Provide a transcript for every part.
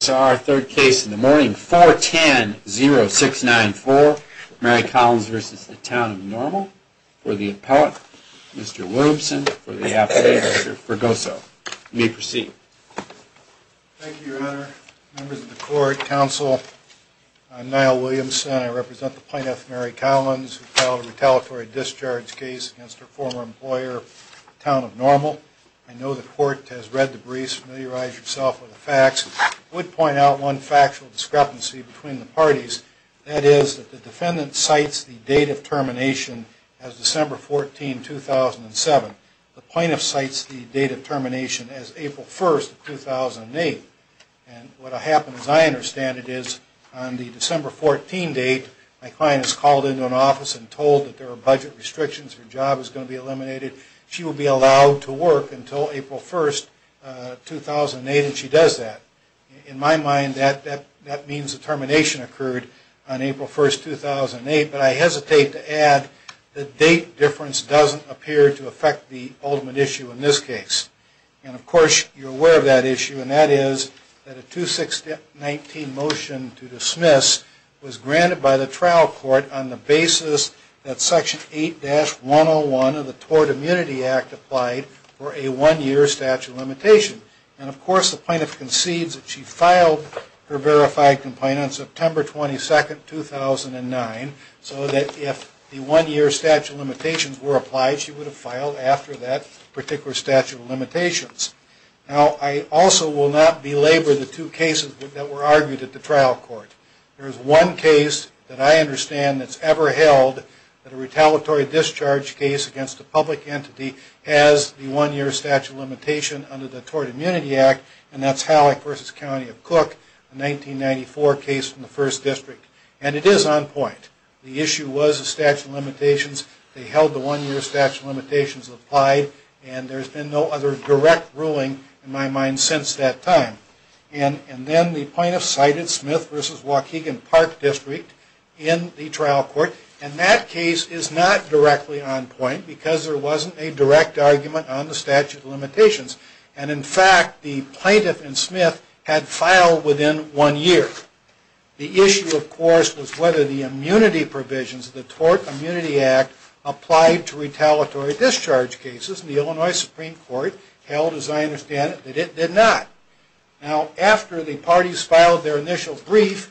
This is our third case in the morning, 410-0694, Mary Collins v. Town of Normal, for the appellate, Mr. Williamson, for the appellate, Mr. Fregoso. You may proceed. Thank you, Your Honor. Members of the Court, Counsel, I'm Niall Williamson. I represent the plaintiff, Mary Collins, who filed a retaliatory discharge case against her former employer, Town of Normal. I know the Court has read the briefs, familiarized yourself with the facts. I would point out one factual discrepancy between the parties. That is that the defendant cites the date of termination as December 14, 2007. The plaintiff cites the date of termination as April 1, 2008. And what happens, as I understand it, is on the December 14 date, my client is called into an office and told that there are budget restrictions, her job is going to be eliminated. She will be allowed to work until April 1, 2008, and she does that. In my mind, that means the termination occurred on April 1, 2008, but I hesitate to add the date difference doesn't appear to affect the ultimate issue in this case. And, of course, you're aware of that issue, and that is that a 2619 motion to dismiss was granted by the trial court on the basis that Section 8-101 of the Tort Immunity Act applied for a one-year statute of limitations. And, of course, the plaintiff concedes that she filed her verified complaint on September 22, 2009, so that if the one-year statute of limitations were applied, she would have filed after that particular statute of limitations. Now, I also will not belabor the two cases that were argued at the trial court. There is one case that I understand that's ever held that a retaliatory discharge case against a public entity has the one-year statute of limitation under the Tort Immunity Act, and that's Hallock v. County of Cook, a 1994 case from the 1st District. And it is on point. The issue was the statute of limitations. They held the one-year statute of limitations applied, and there's been no other direct ruling, in my mind, since that time. And then the plaintiff cited Smith v. Waukegan Park District in the trial court, and that case is not directly on point because there wasn't a direct argument on the statute of limitations. And, in fact, the plaintiff and Smith had filed within one year. The issue, of course, was whether the immunity provisions of the Tort Immunity Act applied to retaliatory discharge cases, and the Illinois Supreme Court held, as I understand it, that it did not. Now, after the parties filed their initial brief,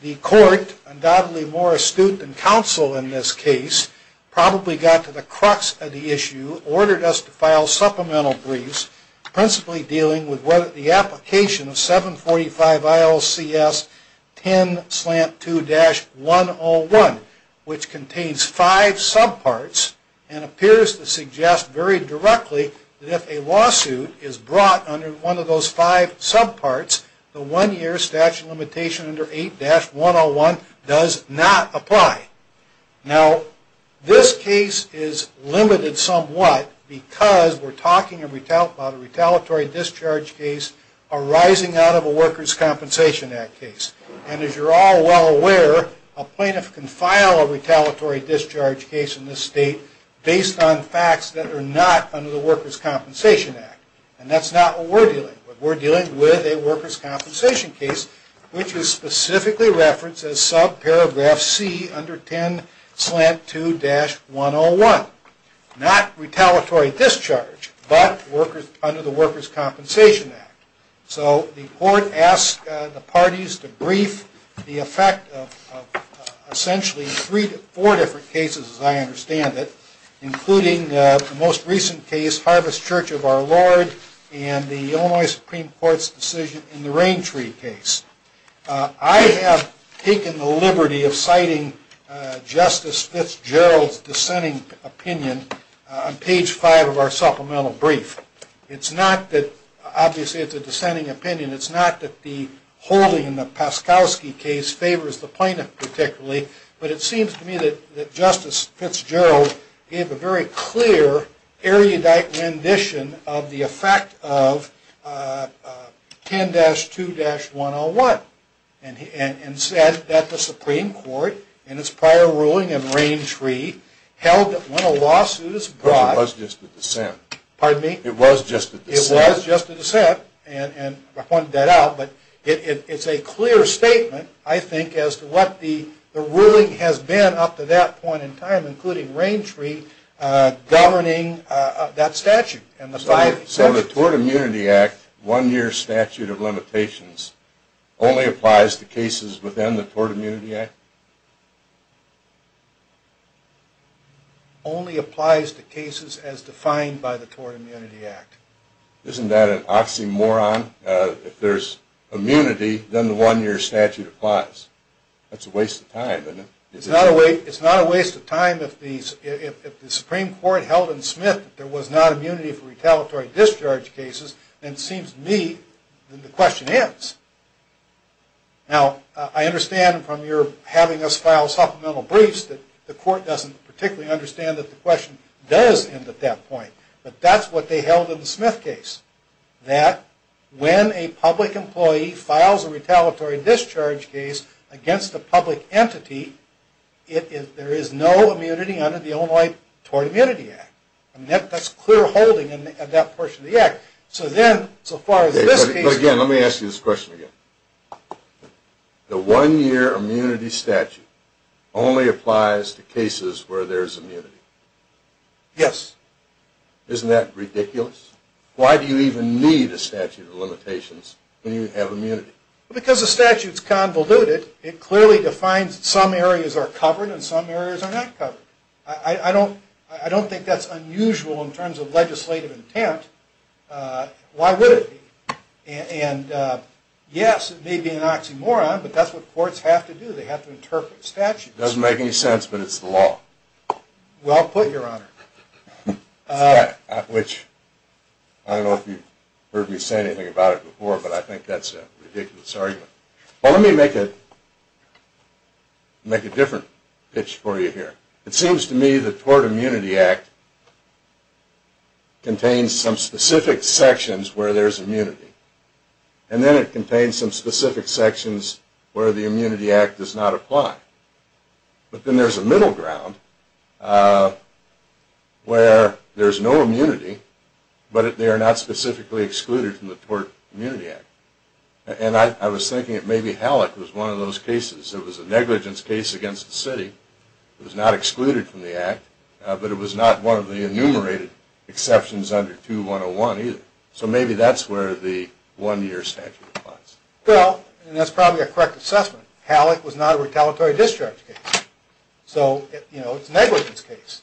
the court, undoubtedly more astute than counsel in this case, probably got to the crux of the issue, ordered us to file supplemental briefs principally dealing with whether the application of 745 ILCS 10-2-101, which contains five subparts, and appears to suggest very directly that if a lawsuit is brought under one of those five subparts, the one-year statute of limitations under 8-101 does not apply. Now, this case is limited somewhat because we're talking about a retaliatory discharge case arising out of a Workers' Compensation Act case. And, as you're all well aware, a plaintiff can file a retaliatory discharge case in this state based on facts that are not under the Workers' Compensation Act. And that's not what we're dealing with. We're dealing with a Workers' Compensation case, which is specifically referenced as subparagraph C under 10-2-101. Not retaliatory discharge, but under the Workers' Compensation Act. So, the court asked the parties to brief the effect of essentially three to four different cases, as I understand it, including the most recent case, Harvest Church of Our Lord, and the Illinois Supreme Court's decision in the Rain Tree case. I have taken the liberty of citing Justice Fitzgerald's dissenting opinion on page five of our supplemental brief. Obviously, it's a dissenting opinion. It's not that the holding in the Paskowski case favors the plaintiff particularly, but it seems to me that Justice Fitzgerald gave a very clear, erudite rendition of the effect of 10-2-101. And said that the Supreme Court, in its prior ruling in Rain Tree, held that when a lawsuit is brought… It was just a dissent. It was just a dissent, and I pointed that out. But it's a clear statement, I think, as to what the ruling has been up to that point in time, including Rain Tree governing that statute. So, the Tort Immunity Act, one-year statute of limitations, only applies to cases within the Tort Immunity Act? Only applies to cases as defined by the Tort Immunity Act. Isn't that an oxymoron? If there's immunity, then the one-year statute applies. That's a waste of time, isn't it? It's not a waste of time if the Supreme Court held in Smith that there was not immunity for retaliatory discharge cases, then it seems to me that the question ends. Now, I understand from your having us file supplemental briefs that the court doesn't particularly understand that the question does end at that point. But that's what they held in the Smith case. That when a public employee files a retaliatory discharge case against a public entity, there is no immunity under the Illinois Tort Immunity Act. That's clear holding in that portion of the act. But again, let me ask you this question again. The one-year immunity statute only applies to cases where there's immunity? Yes. Isn't that ridiculous? Why do you even need a statute of limitations when you have immunity? Because the statute's convoluted. It clearly defines some areas are covered and some areas are not covered. I don't think that's unusual in terms of legislative intent. Why would it be? And yes, it may be an oxymoron, but that's what courts have to do. They have to interpret statutes. It doesn't make any sense, but it's the law. Well put, Your Honor. I don't know if you've heard me say anything about it before, but I think that's a ridiculous argument. Well, let me make a different pitch for you here. It seems to me the Tort Immunity Act contains some specific sections where there's immunity. And then it contains some specific sections where the Immunity Act does not apply. But then there's a middle ground where there's no immunity, but they are not specifically excluded from the Tort Immunity Act. And I was thinking that maybe Hallock was one of those cases. It was a negligence case against the city. It was not excluded from the act, but it was not one of the enumerated exceptions under 2-101 either. So maybe that's where the one-year statute applies. Well, that's probably a correct assessment. Hallock was not a retaliatory discharge case. So, you know, it's a negligence case.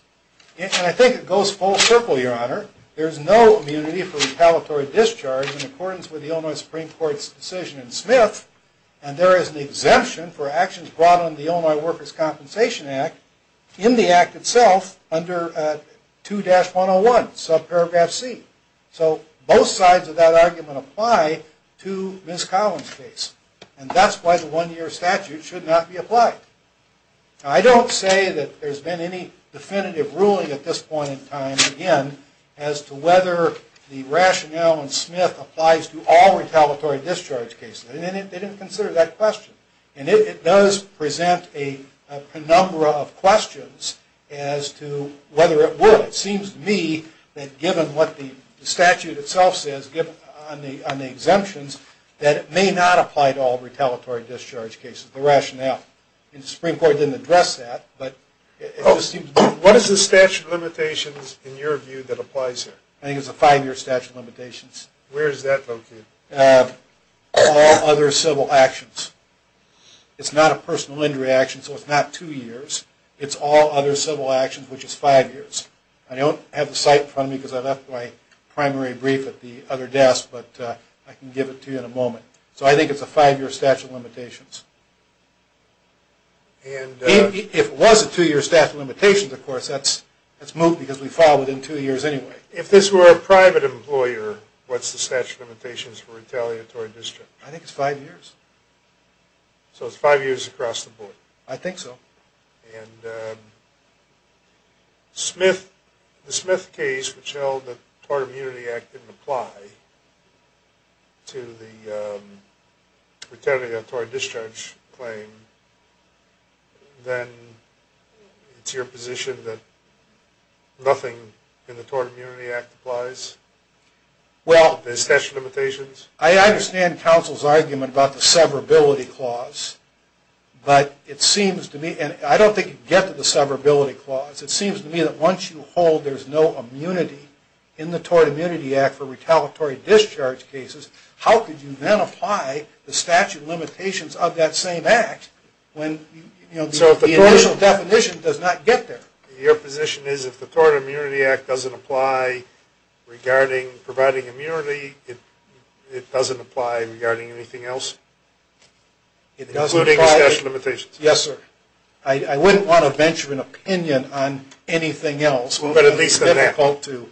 And I think it goes full circle, Your Honor. There's no immunity for retaliatory discharge in accordance with the Illinois Supreme Court's decision in Smith. And there is an exemption for actions brought under the Illinois Workers' Compensation Act in the act itself under 2-101, subparagraph C. So both sides of that argument apply to Ms. Collins' case. And that's why the one-year statute should not be applied. Now, I don't say that there's been any definitive ruling at this point in time, again, as to whether the rationale in Smith applies to all retaliatory discharge cases. And they didn't consider that question. And it does present a number of questions as to whether it would. It seems to me that given what the statute itself says on the exemptions, that it may not apply to all retaliatory discharge cases, the rationale. And the Supreme Court didn't address that. What is the statute of limitations in your view that applies here? I think it's a five-year statute of limitations. Where is that located? All other civil actions. It's not a personal injury action, so it's not two years. It's all other civil actions, which is five years. I don't have the site in front of me because I left my primary brief at the other desk. But I can give it to you in a moment. So I think it's a five-year statute of limitations. If it was a two-year statute of limitations, of course, that's moved because we filed it in two years anyway. If this were a private employer, what's the statute of limitations for retaliatory discharge? I think it's five years. So it's five years across the board. I think so. And the Smith case, which held that the Tort Immunity Act didn't apply to the retaliatory discharge claim, then it's your position that nothing in the Tort Immunity Act applies? Well, I understand counsel's argument about the severability clause. But it seems to me, and I don't think you get to the severability clause, it seems to me that once you hold there's no immunity in the Tort Immunity Act for retaliatory discharge cases, how could you then apply the statute of limitations of that same act when the initial definition does not get there? Your position is if the Tort Immunity Act doesn't apply regarding providing immunity, it doesn't apply regarding anything else? Yes, sir. I wouldn't want to venture an opinion on anything else. It would be difficult to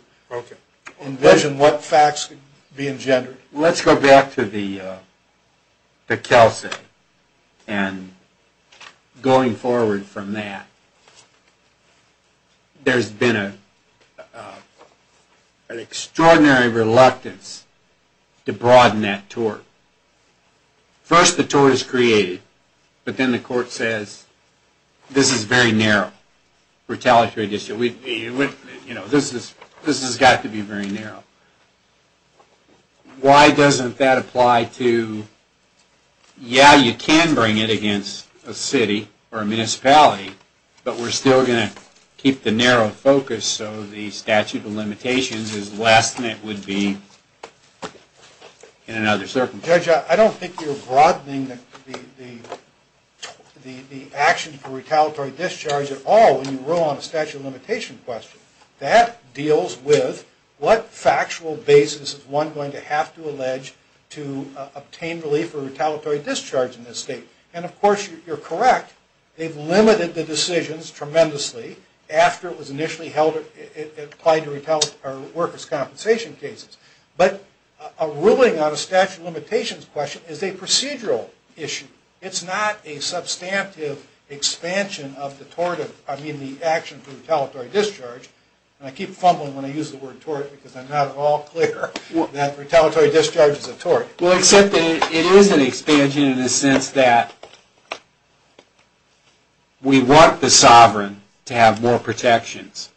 envision what facts could be engendered. Let's go back to the Kelsey. And going forward from that, there's been an extraordinary reluctance to broaden that tort. First the tort is created, but then the court says this is very narrow, retaliatory discharge. This has got to be very narrow. Why doesn't that apply to, yeah, you can bring it against a city or a municipality, but we're still going to keep the narrow focus so the statute of limitations is less than it would be in another circumstance? Judge, I don't think you're broadening the action for retaliatory discharge at all when you rule on a statute of limitation question. That deals with what factual basis is one going to have to allege to obtain relief for retaliatory discharge in this state? And of course you're correct. They've limited the decisions tremendously after it was initially applied to workers' compensation cases. But a ruling on a statute of limitations question is a procedural issue. It's not a substantive expansion of the action for retaliatory discharge. And I keep fumbling when I use the word tort because I'm not at all clear that retaliatory discharge is a tort. Well, except that it is an expansion in the sense that we want the sovereign to have more protections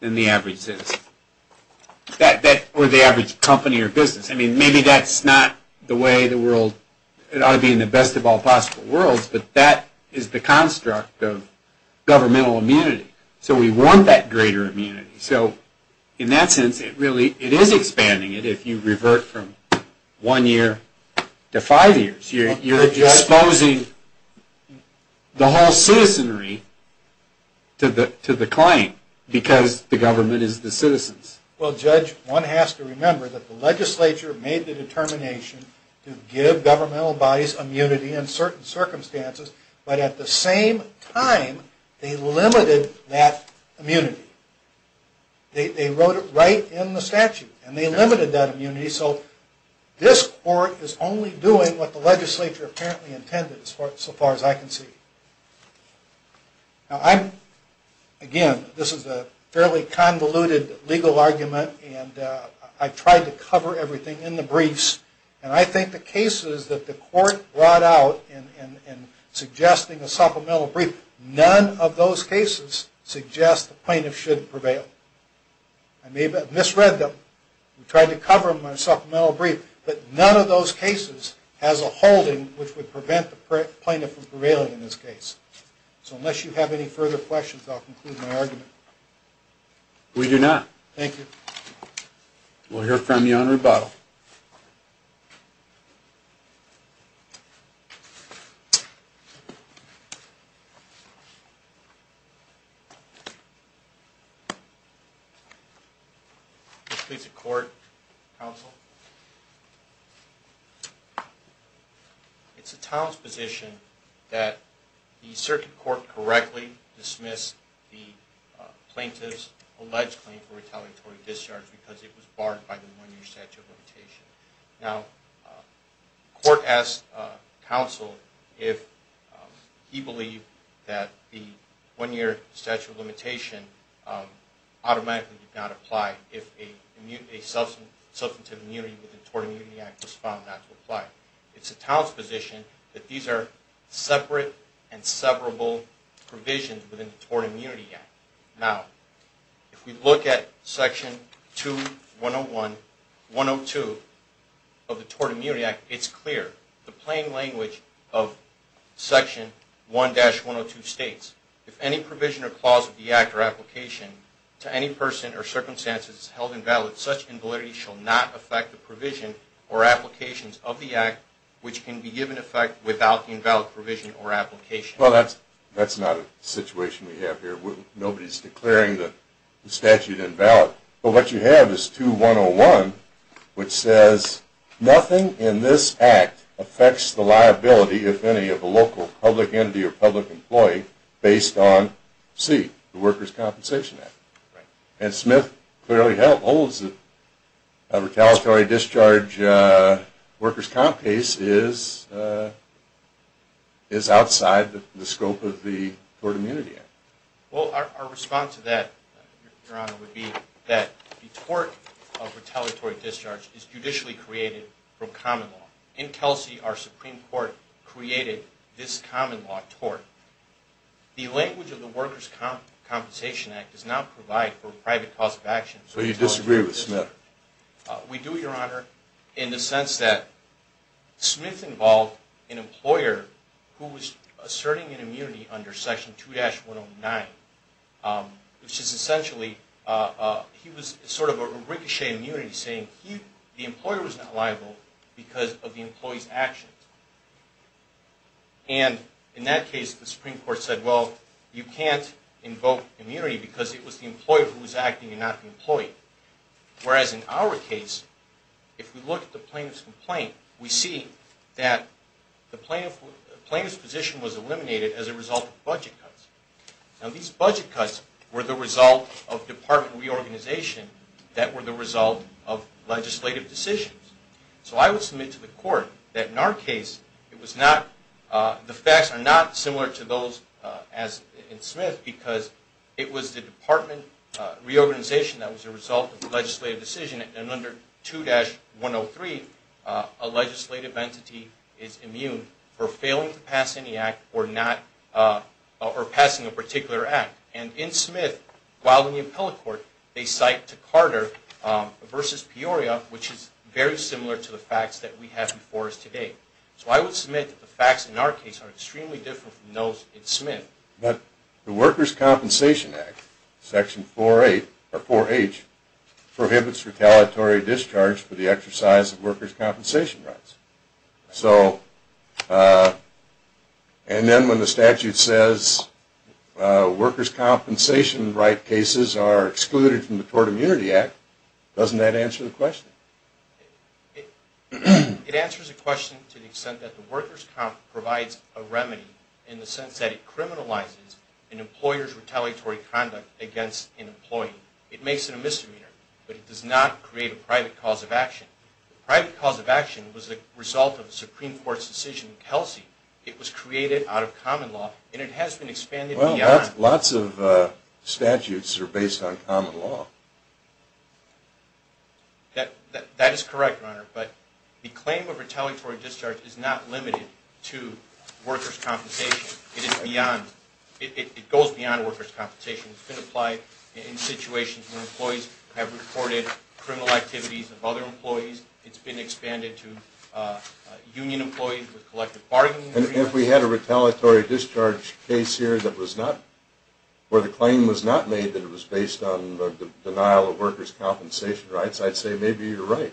than the average citizen. Or the average company or business. I mean, maybe that's not the way the world, it ought to be in the best of all possible worlds, but that is the construct of governmental immunity. So we want that greater immunity. So in that sense, it really is expanding it if you revert from one year to five years. You're exposing the whole citizenry to the claim because the government is the citizens. Well, Judge, one has to remember that the legislature made the determination to give governmental bodies immunity in certain circumstances. But at the same time, they limited that immunity. They wrote it right in the statute. And they limited that immunity. So this court is only doing what the legislature apparently intended so far as I can see. Now, I'm, again, this is a fairly convoluted legal argument. And I tried to cover everything in the briefs. And I think the cases that the court brought out in suggesting a supplemental brief, none of those cases suggest the plaintiff should prevail. I may have misread them. We tried to cover them in a supplemental brief. But none of those cases has a holding which would prevent the plaintiff from prevailing in this case. So unless you have any further questions, I'll conclude my argument. We do not. Thank you. We'll hear from you on rebuttal. Thank you. Please, the court, counsel. It's the town's position that the circuit court correctly dismissed the plaintiff's alleged claim for retaliatory discharge because it was barred by the one-year statute of limitation. Now, the court asked counsel if he believed that the one-year statute of limitation automatically did not apply if a substantive immunity within the Tort Immunity Act was found not to apply. It's the town's position that these are separate and severable provisions within the Tort Immunity Act. Now, if we look at Section 2-101-102 of the Tort Immunity Act, it's clear. The plain language of Section 1-102 states, if any provision or clause of the act or application to any person or circumstance is held invalid, such invalidity shall not affect the provision or applications of the act which can be given effect without the invalid provision or application. Well, that's not a situation we have here. Nobody's declaring the statute invalid. But what you have is 2-101, which says, nothing in this act affects the liability, if any, of a local public entity or public employee based on C, the Workers' Compensation Act. And Smith clearly holds that a retaliatory discharge Workers' Comp case is outside the scope of the Tort Immunity Act. Well, our response to that, Your Honor, would be that the tort of retaliatory discharge is judicially created from common law. In Kelsey, our Supreme Court created this common law tort. The language of the Workers' Compensation Act does not provide for private cause of action. So you disagree with Smith? We do, Your Honor, in the sense that Smith involved an employer who was asserting an immunity under Section 2-109, which is essentially, he was sort of a ricochet immunity, saying the employer was not liable because of the employee's actions. And in that case, the Supreme Court said, well, you can't invoke immunity because it was the employer who was acting and not the employee. Whereas in our case, if we look at the plaintiff's complaint, we see that the plaintiff's position was eliminated as a result of budget cuts. Now, these budget cuts were the result of department reorganization that were the result of legislative decisions. So I would submit to the Court that in our case, the facts are not similar to those in Smith, because it was the department reorganization that was the result of the legislative decision. And under 2-103, a legislative entity is immune for failing to pass any act or passing a particular act. And in Smith, while in the appellate court, they cite to Carter v. Peoria, which is very similar to the facts that we have before us today. So I would submit that the facts in our case are extremely different from those in Smith. But the Workers' Compensation Act, Section 4-H, prohibits retaliatory discharge for the exercise of workers' compensation rights. And then when the statute says workers' compensation right cases are excluded from the Tort Immunity Act, doesn't that answer the question? It answers the question to the extent that the Workers' Comp provides a remedy in the sense that it criminalizes an employer's retaliatory conduct against an employee. It makes it a misdemeanor, but it does not create a private cause of action. The private cause of action was the result of the Supreme Court's decision in Kelsey. It was created out of common law, and it has been expanded beyond. Well, lots of statutes are based on common law. That is correct, Your Honor. But the claim of retaliatory discharge is not limited to workers' compensation. It goes beyond workers' compensation. It's been applied in situations where employees have reported criminal activities of other employees. It's been expanded to union employees with collective bargaining agreements. And if we had a retaliatory discharge case here where the claim was not made that it was based on the denial of workers' compensation rights, I'd say maybe you're right.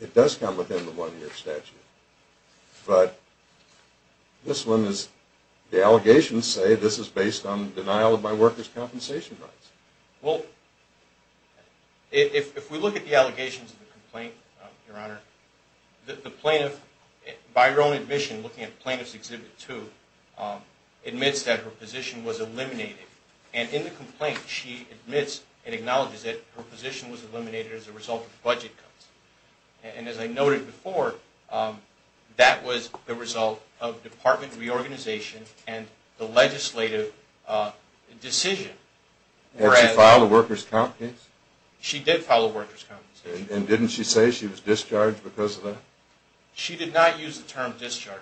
It does come within the one-year statute. But this one is – the allegations say this is based on denial of my workers' compensation rights. Well, if we look at the allegations of the complaint, Your Honor, the plaintiff, by her own admission, looking at Plaintiff's Exhibit 2, admits that her position was eliminated. And in the complaint, she admits and acknowledges that her position was eliminated as a result of budget cuts. And as I noted before, that was the result of department reorganization and the legislative decision. Did she file a workers' compensation? She did file a workers' compensation. And didn't she say she was discharged because of that? She did not use the term discharge.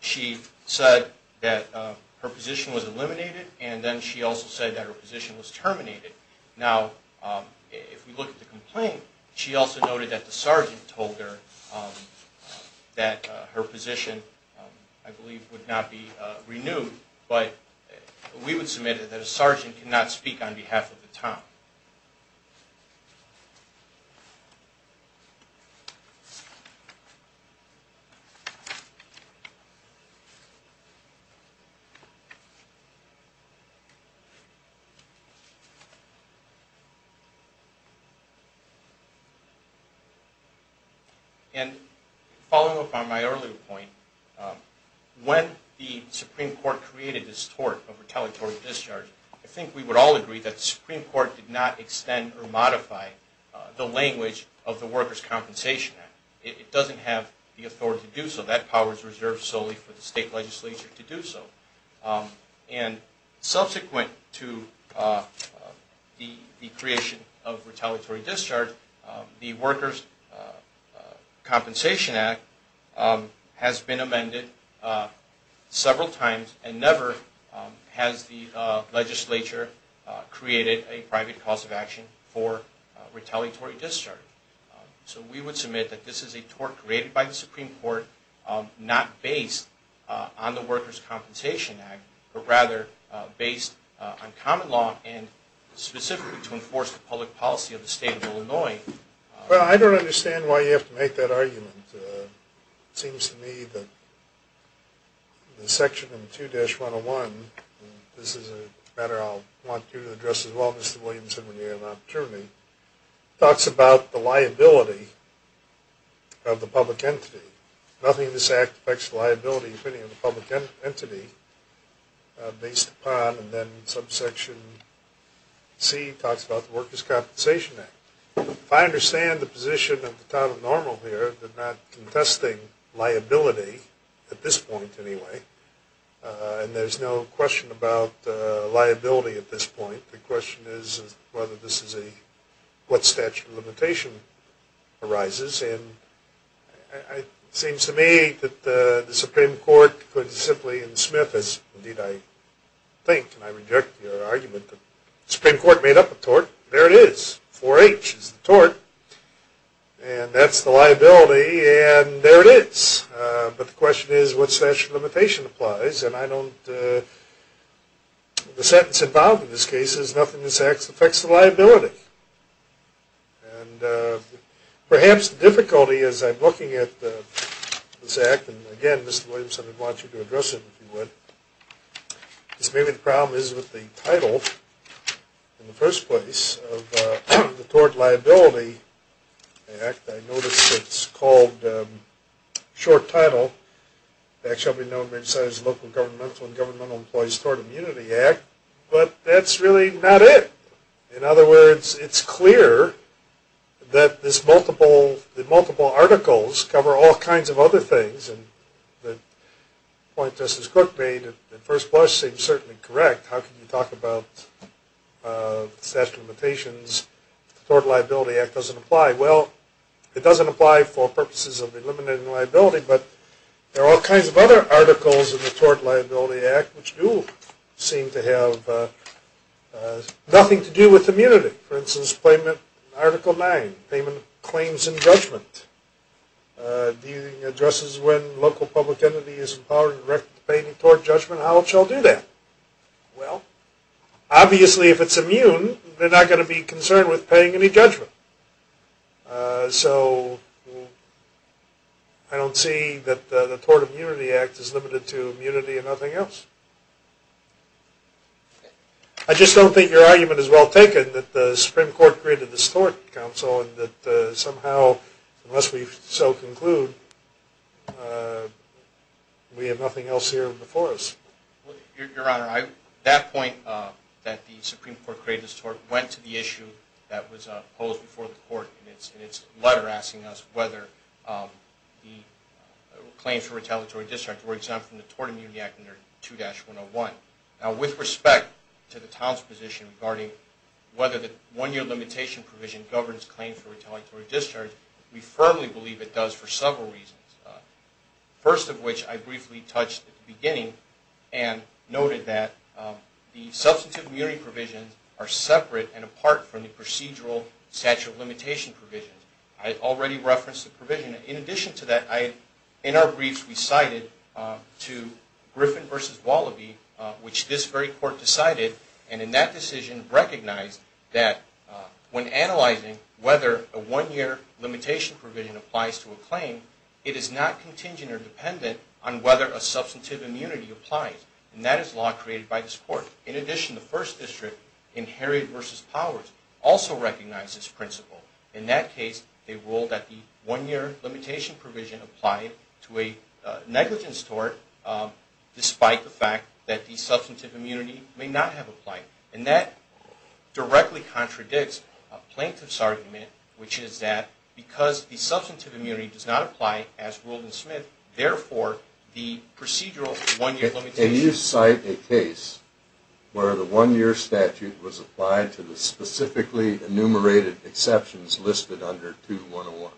She said that her position was eliminated, and then she also said that her position was terminated. Now, if we look at the complaint, she also noted that the sergeant told her that her position, I believe, would not be renewed, but we would submit that a sergeant cannot speak on behalf of the town. And following up on my earlier point, when the Supreme Court created this tort of retaliatory discharge, I think we would all agree that the Supreme Court did not extend or modify the language of the Workers' Compensation Act. It doesn't have the authority to do so. That power is reserved solely for the state legislature to do so. And subsequent to the creation of retaliatory discharge, the Workers' Compensation Act has been amended several times and never has the legislature created a private cause of action for retaliatory discharge. So we would submit that this is a tort created by the Supreme Court not based on the Workers' Compensation Act, but rather based on common law and specifically to enforce the public policy of the state of Illinois. Well, I don't understand why you have to make that argument. It seems to me that the section in 2-101, and this is a matter I'll want you to address as well, Mr. Williamson, when you have an opportunity, talks about the liability of the public entity. Nothing in this act affects the liability of any of the public entity based upon, and then subsection C talks about the Workers' Compensation Act. If I understand the position of the town of Normal here, they're not contesting liability at this point anyway, and there's no question about liability at this point. The question is whether this is a, what statute of limitation arises, and it seems to me that the Supreme Court could simply in Smith, as indeed I think, and I reject your argument, the Supreme Court made up a tort. There it is. 4-H is the tort, and that's the liability, and there it is. But the question is what statute of limitation applies, and I don't, the sentence involved in this case is nothing in this act affects the liability. And perhaps the difficulty as I'm looking at this act, and again, Mr. Williamson, I'd want you to address it if you would, is maybe the problem is with the title in the first place of the Tort Liability Act. I notice it's called, short title, that shall be known as the Local Governmental and Governmental Employees Tort Immunity Act, but that's really not it. In other words, it's clear that this multiple, that multiple articles cover all kinds of other things, and the point Justice Cook made in the first place seems certainly correct. How can you talk about statute of limitations if the Tort Liability Act doesn't apply? Well, it doesn't apply for purposes of eliminating liability, but there are all kinds of other articles in the Tort Liability Act which do seem to have nothing to do with immunity. For instance, payment, Article 9, payment of claims and judgment. Dealing addresses when local public entity is empowered and directed to pay any tort judgment. How shall it do that? Well, obviously if it's immune, they're not going to be concerned with paying any judgment. So, I don't see that the Tort Immunity Act is limited to immunity and nothing else. I just don't think your argument is well taken that the Supreme Court created this Tort Council and that somehow, unless we so conclude, we have nothing else here before us. Your Honor, that point that the Supreme Court created this tort went to the issue that was posed before the court in its letter asking us whether the claims for retaliatory discharge were exempt from the Tort Immunity Act under 2-101. Now, with respect to the town's position regarding whether the one-year limitation provision governs claims for retaliatory discharge, we firmly believe it does for several reasons. First of which I briefly touched at the beginning and noted that the substantive immunity provisions are separate and apart from the procedural statute of limitation provisions. I already referenced the provision. In addition to that, in our briefs we cited to Griffin v. Wallaby, which this very court decided, and in that decision recognized that when analyzing whether a one-year limitation provision applies to a claim, it is not contingent or dependent on whether a substantive immunity applies. And that is a law created by this court. In addition, the First District in Herod v. Powers also recognized this principle. In that case, they ruled that the one-year limitation provision applied to a negligent tort despite the fact that the substantive immunity may not have applied. And that directly contradicts a plaintiff's argument, which is that because the substantive immunity does not apply, as ruled in Smith, therefore the procedural one-year limitation... Can you cite a case where the one-year statute was applied to the specifically enumerated exceptions listed under 2-101?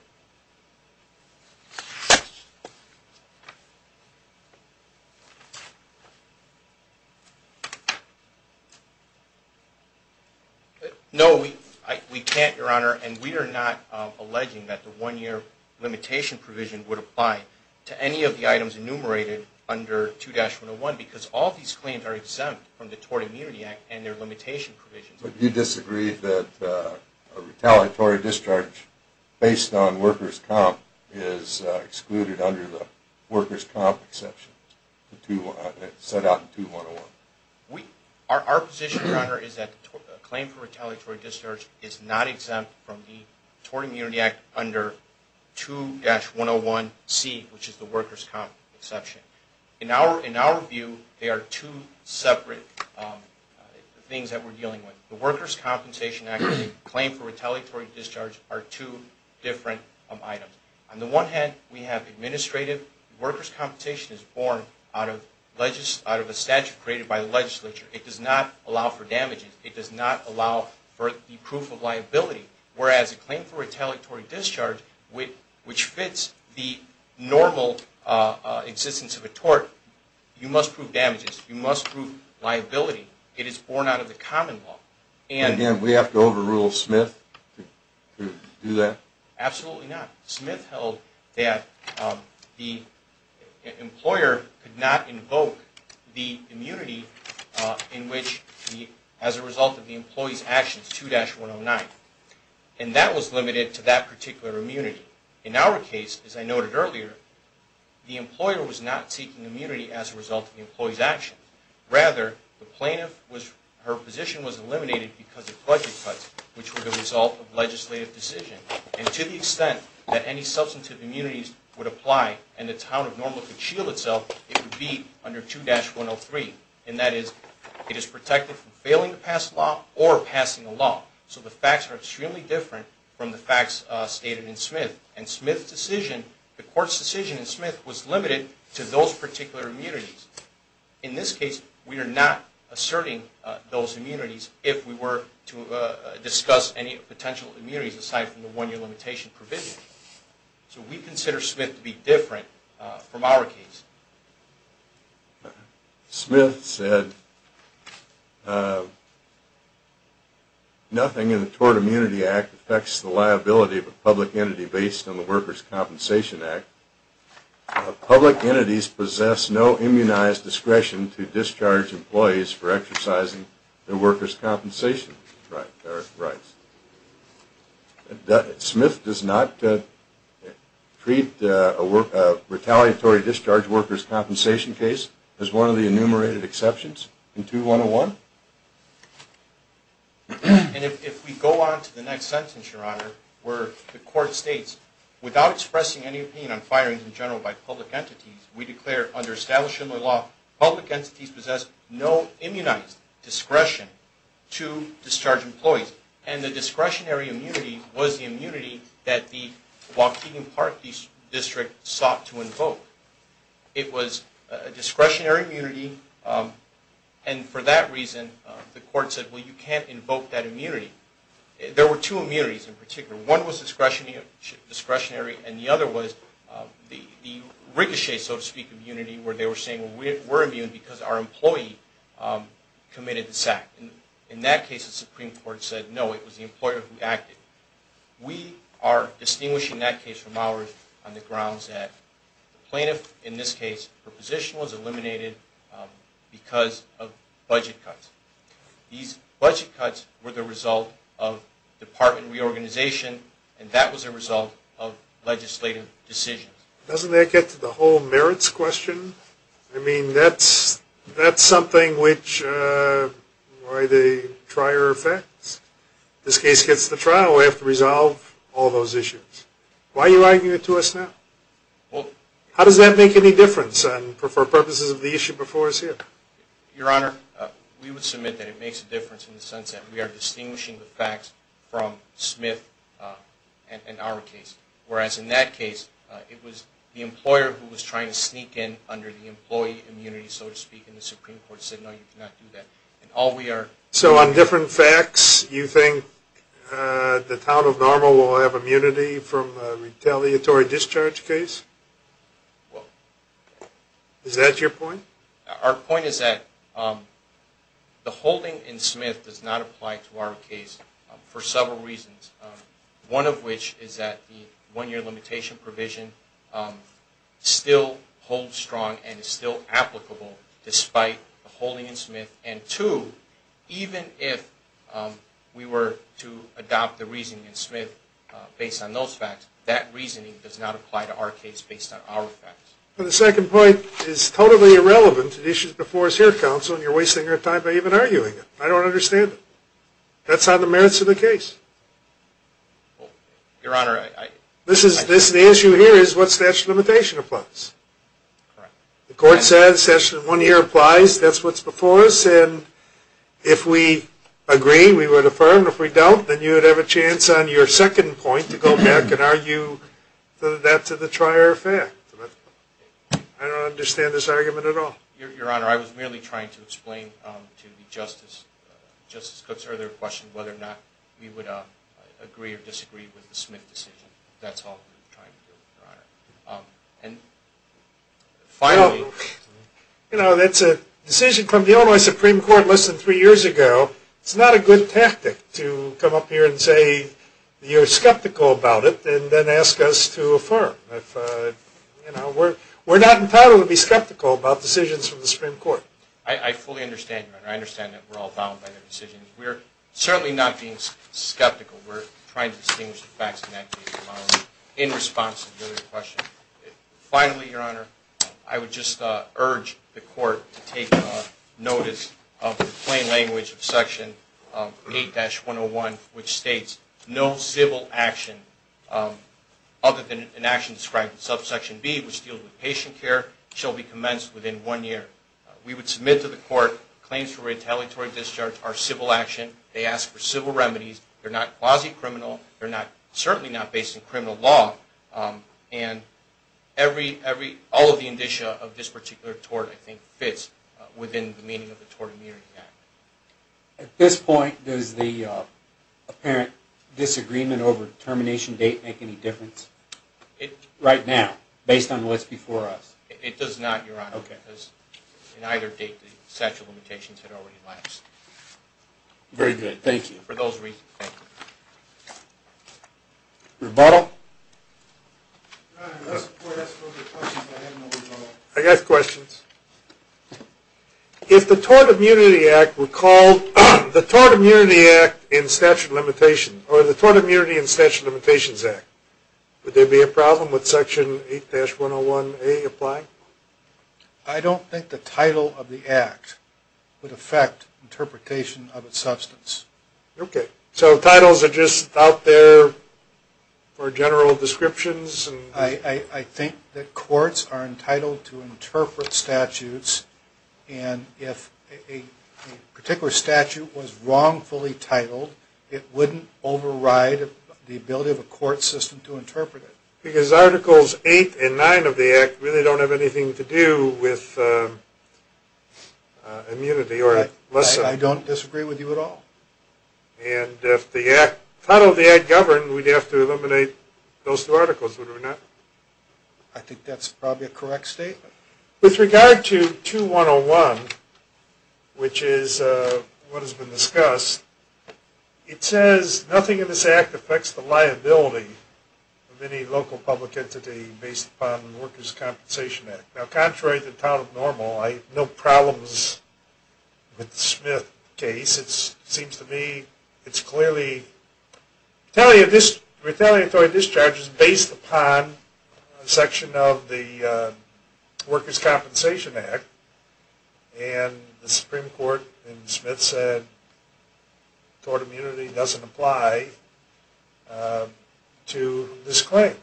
No, we can't, Your Honor. And we are not alleging that the one-year limitation provision would apply to any of the items enumerated under 2-101 because all these claims are exempt from the Tort Immunity Act and their limitation provisions. But you disagree that a retaliatory discharge based on workers' comp is excluded under the workers' comp exception set out in 2-101? Our position, Your Honor, is that a claim for retaliatory discharge is not exempt from the Tort Immunity Act under 2-101C, which is the workers' comp exception. In our view, they are two separate things that we're dealing with. The Workers' Compensation Act and the claim for retaliatory discharge are two different items. On the one hand, we have administrative. Workers' compensation is born out of a statute created by the legislature. It does not allow for damages. It does not allow for the proof of liability, whereas a claim for retaliatory discharge, which fits the normal existence of a tort, you must prove damages. You must prove liability. It is born out of the common law. And again, we have to overrule Smith to do that? Absolutely not. Smith held that the employer could not invoke the immunity as a result of the employee's actions, 2-109. And that was limited to that particular immunity. In our case, as I noted earlier, the employer was not seeking immunity as a result of the employee's actions. Rather, the plaintiff, her position was eliminated because of budget cuts, which were the result of legislative decisions. And to the extent that any substantive immunities would apply and the town of Norma could shield itself, it would be under 2-103. And that is, it is protected from failing to pass a law or passing a law. So the facts are extremely different from the facts stated in Smith. And Smith's decision, the court's decision in Smith, was limited to those particular immunities. In this case, we are not asserting those immunities if we were to discuss any potential immunities aside from the one-year limitation provision. So we consider Smith to be different from our case. Smith said, nothing in the Tort Immunity Act affects the liability of a public entity based on the Workers' Compensation Act. Public entities possess no immunized discretion to discharge employees for exercising their workers' compensation rights. Smith does not treat a retaliatory discharge workers' compensation case as one of the enumerated exceptions in 2-101. And if we go on to the next sentence, Your Honor, where the court states, without expressing any opinion on firings in general by public entities, we declare under establishment law, public entities possess no immunized discretion to discharge employees. And the discretionary immunity was the immunity that the Waukegan Park District sought to invoke. It was a discretionary immunity, and for that reason, the court said, well, you can't invoke that immunity. There were two immunities in particular. One was discretionary, and the other was the ricochet, so to speak, immunity, where they were saying, well, we're immune because our employee committed this act. In that case, the Supreme Court said, no, it was the employer who acted. We are distinguishing that case from ours on the grounds that the plaintiff, in this case, her position was eliminated because of budget cuts. These budget cuts were the result of department reorganization, and that was a result of legislative decisions. Doesn't that get to the whole merits question? I mean, that's something which, why the trier effects? This case gets the trial. We have to resolve all those issues. Why are you arguing it to us now? How does that make any difference for purposes of the issue before us here? Your Honor, we would submit that it makes a difference in the sense that we are distinguishing the facts from Smith and our case, whereas in that case, it was the employer who was trying to sneak in under the employee immunity, so to speak, and the Supreme Court said, no, you cannot do that. So on different facts, you think the town of Normal will have immunity from a retaliatory discharge case? Is that your point? Our point is that the holding in Smith does not apply to our case for several reasons, one of which is that the one-year limitation provision still holds strong and is still applicable despite the holding in Smith, and two, even if we were to adopt the reasoning in Smith based on those facts, that reasoning does not apply to our case based on our facts. The second point is totally irrelevant to the issues before us here, Counsel, and you're wasting your time by even arguing it. I don't understand it. That's on the merits of the case. Your Honor, I... The issue here is what statute of limitation applies. Correct. The court says statute of one-year applies, that's what's before us, and if we agree, we would affirm. If we don't, then you would have a chance on your second point to go back and argue that to the trier affair. I don't understand this argument at all. Your Honor, I was merely trying to explain to Justice Cook's earlier question whether or not we would agree or disagree with the Smith decision. That's all I'm trying to do, Your Honor. And finally... You know, that's a decision from the Illinois Supreme Court less than three years ago. It's not a good tactic to come up here and say you're skeptical about it and then ask us to affirm. We're not entitled to be skeptical about decisions from the Supreme Court. I fully understand, Your Honor. I understand that we're all bound by the decisions. We're certainly not being skeptical. We're trying to distinguish the facts in that case in response to the earlier question. Finally, Your Honor, I would just urge the court to take notice of the plain language of Section 8-101, which states, No civil action other than an action described in Subsection B, which deals with patient care, shall be commenced within one year. We would submit to the court claims for retaliatory discharge are civil action. They ask for civil remedies. They're not quasi-criminal. They're certainly not based in criminal law. And all of the indicia of this particular tort, I think, fits within the meaning of the Tort Immunity Act. At this point, does the apparent disagreement over termination date make any difference? Right now, based on what's before us. It does not, Your Honor. In either date, the statute of limitations had already lapsed. Very good. Thank you. For those reasons, thank you. Rebuttal? Your Honor, unless the court asks further questions, I have no rebuttal. I got questions. If the Tort Immunity Act were called the Tort Immunity Act in Statute of Limitations, or the Tort Immunity in Statute of Limitations Act, would there be a problem with Section 8-101A applying? I don't think the title of the act would affect interpretation of its substance. Okay. So titles are just out there for general descriptions? I think that courts are entitled to interpret statutes, and if a particular statute was wrongfully titled, it wouldn't override the ability of a court system to interpret it. Because Articles 8 and 9 of the act really don't have anything to do with immunity. I don't disagree with you at all. And if the title of the act governed, we'd have to eliminate those two articles, would we not? I think that's probably a correct statement. With regard to 2-101, which is what has been discussed, it says nothing in this act affects the liability of any local public entity based upon the Workers' Compensation Act. Now, contrary to the town of Normal, I have no problems with the Smith case. It seems to me it's clearly retaliatory discharges based upon a section of the Workers' Compensation Act, and the Supreme Court in Smith said tort immunity doesn't apply to this claim.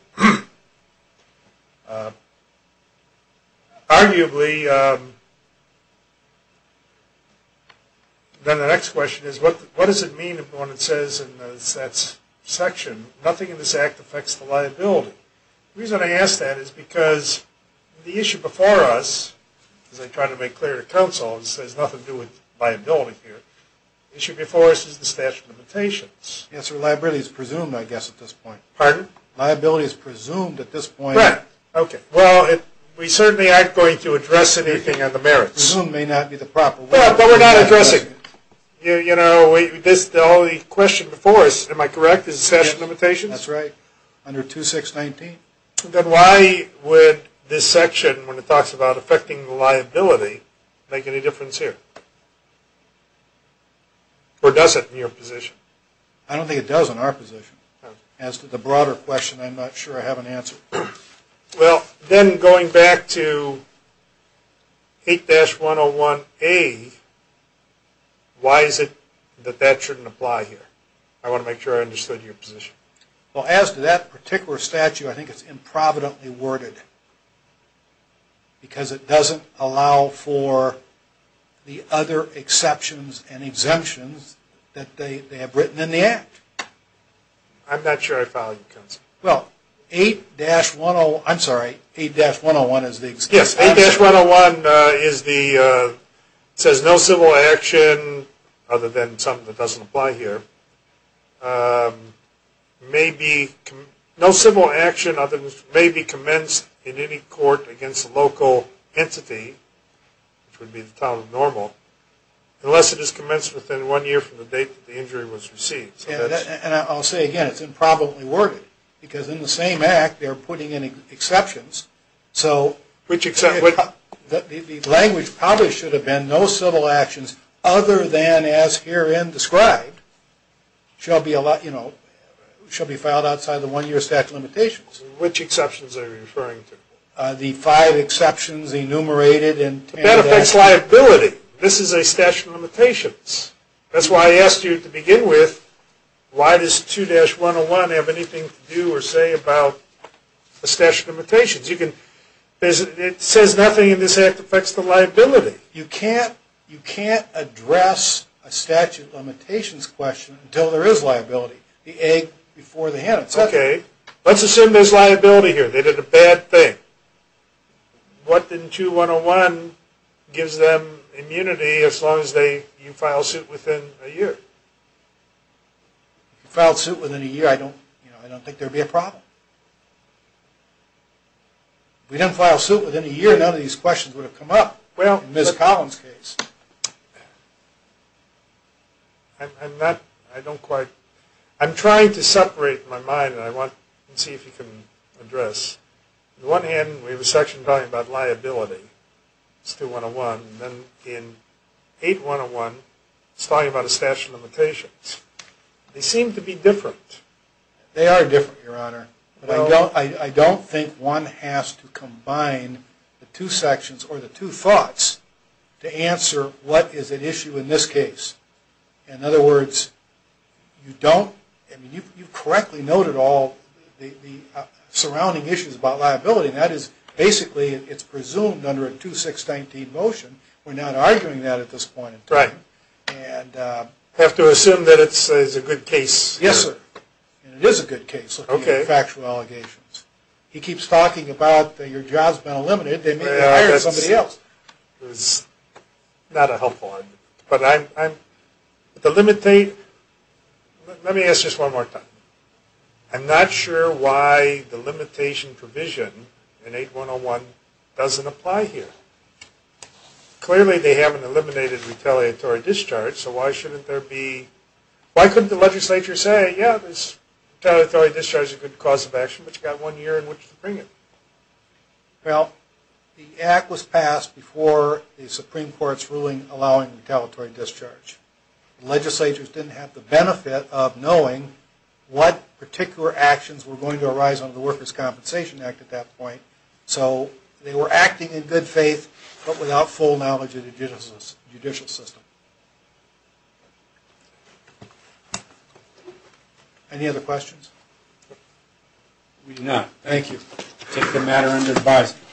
Arguably, then the next question is, what does it mean when it says in that section, nothing in this act affects the liability? The reason I ask that is because the issue before us, as I try to make clear to counsel, this has nothing to do with liability here, the issue before us is the statute of limitations. The answer to liability is presumed, I guess, at this point. Pardon? Liability is presumed at this point. Right, okay. Well, we certainly aren't going to address anything on the merits. Presumed may not be the proper word. But we're not addressing it. You know, the only question before us, am I correct, is the statute of limitations? That's right, under 2-619. Then why would this section, when it talks about affecting the liability, make any difference here? Or does it in your position? I don't think it does in our position. As to the broader question, I'm not sure I have an answer. Well, then going back to 8-101A, why is it that that shouldn't apply here? I want to make sure I understood your position. Well, as to that particular statute, I think it's improvidently worded, because it doesn't allow for the other exceptions and exemptions that they have written in the Act. I'm not sure I follow you, counsel. Well, 8-101, I'm sorry, 8-101 is the exception. Yes, 8-101 is the, it says no civil action, other than something that doesn't apply here, may be, no civil action other than may be commenced in any court against a local entity, which would be the title of normal, unless it is commenced within one year from the date that the injury was received. And I'll say again, it's improvidently worded, because in the same Act they're putting in exceptions, so the language probably should have been, no civil actions other than as herein described, shall be filed outside the one-year statute of limitations. Which exceptions are you referring to? The five exceptions enumerated. That affects liability. This is a statute of limitations. That's why I asked you to begin with, why does 2-101 have anything to do or say about a statute of limitations? It says nothing in this Act that affects the liability. You can't address a statute of limitations question until there is liability. The egg before the hen. Okay, let's assume there's liability here. They did a bad thing. What in 2-101 gives them immunity as long as you file suit within a year? If you file suit within a year, I don't think there would be a problem. If we didn't file suit within a year, none of these questions would have come up in Ms. Collins' case. I'm not, I don't quite, I'm trying to separate my mind, and I want to see if you can address. On the one hand, we have a section talking about liability. It's 2-101, and then in 8-101, it's talking about a statute of limitations. They seem to be different. They are different, Your Honor. I don't think one has to combine the two sections or the two thoughts to answer what is at issue in this case. In other words, you don't, I mean, you correctly noted all the surrounding issues about liability, and that is, basically, it's presumed under a 2-619 motion. We're not arguing that at this point in time. I have to assume that it's a good case. Yes, sir. It is a good case looking at factual allegations. He keeps talking about your job's been eliminated. They may hire somebody else. That's not a helpful argument. But I'm, the limit, let me ask this one more time. I'm not sure why the limitation provision in 8-101 doesn't apply here. Clearly, they haven't eliminated retaliatory discharge, so why shouldn't there be, why couldn't the legislature say, yeah, this retaliatory discharge is a good cause of action, but you've got one year in which to bring it? Well, the act was passed before the Supreme Court's ruling allowing retaliatory discharge. Legislators didn't have the benefit of knowing what particular actions were going to arise under the Workers' Compensation Act at that point, so they were acting in good faith, but without full knowledge of the judicial system. Any other questions? We do not. Thank you. I take the matter under advisory.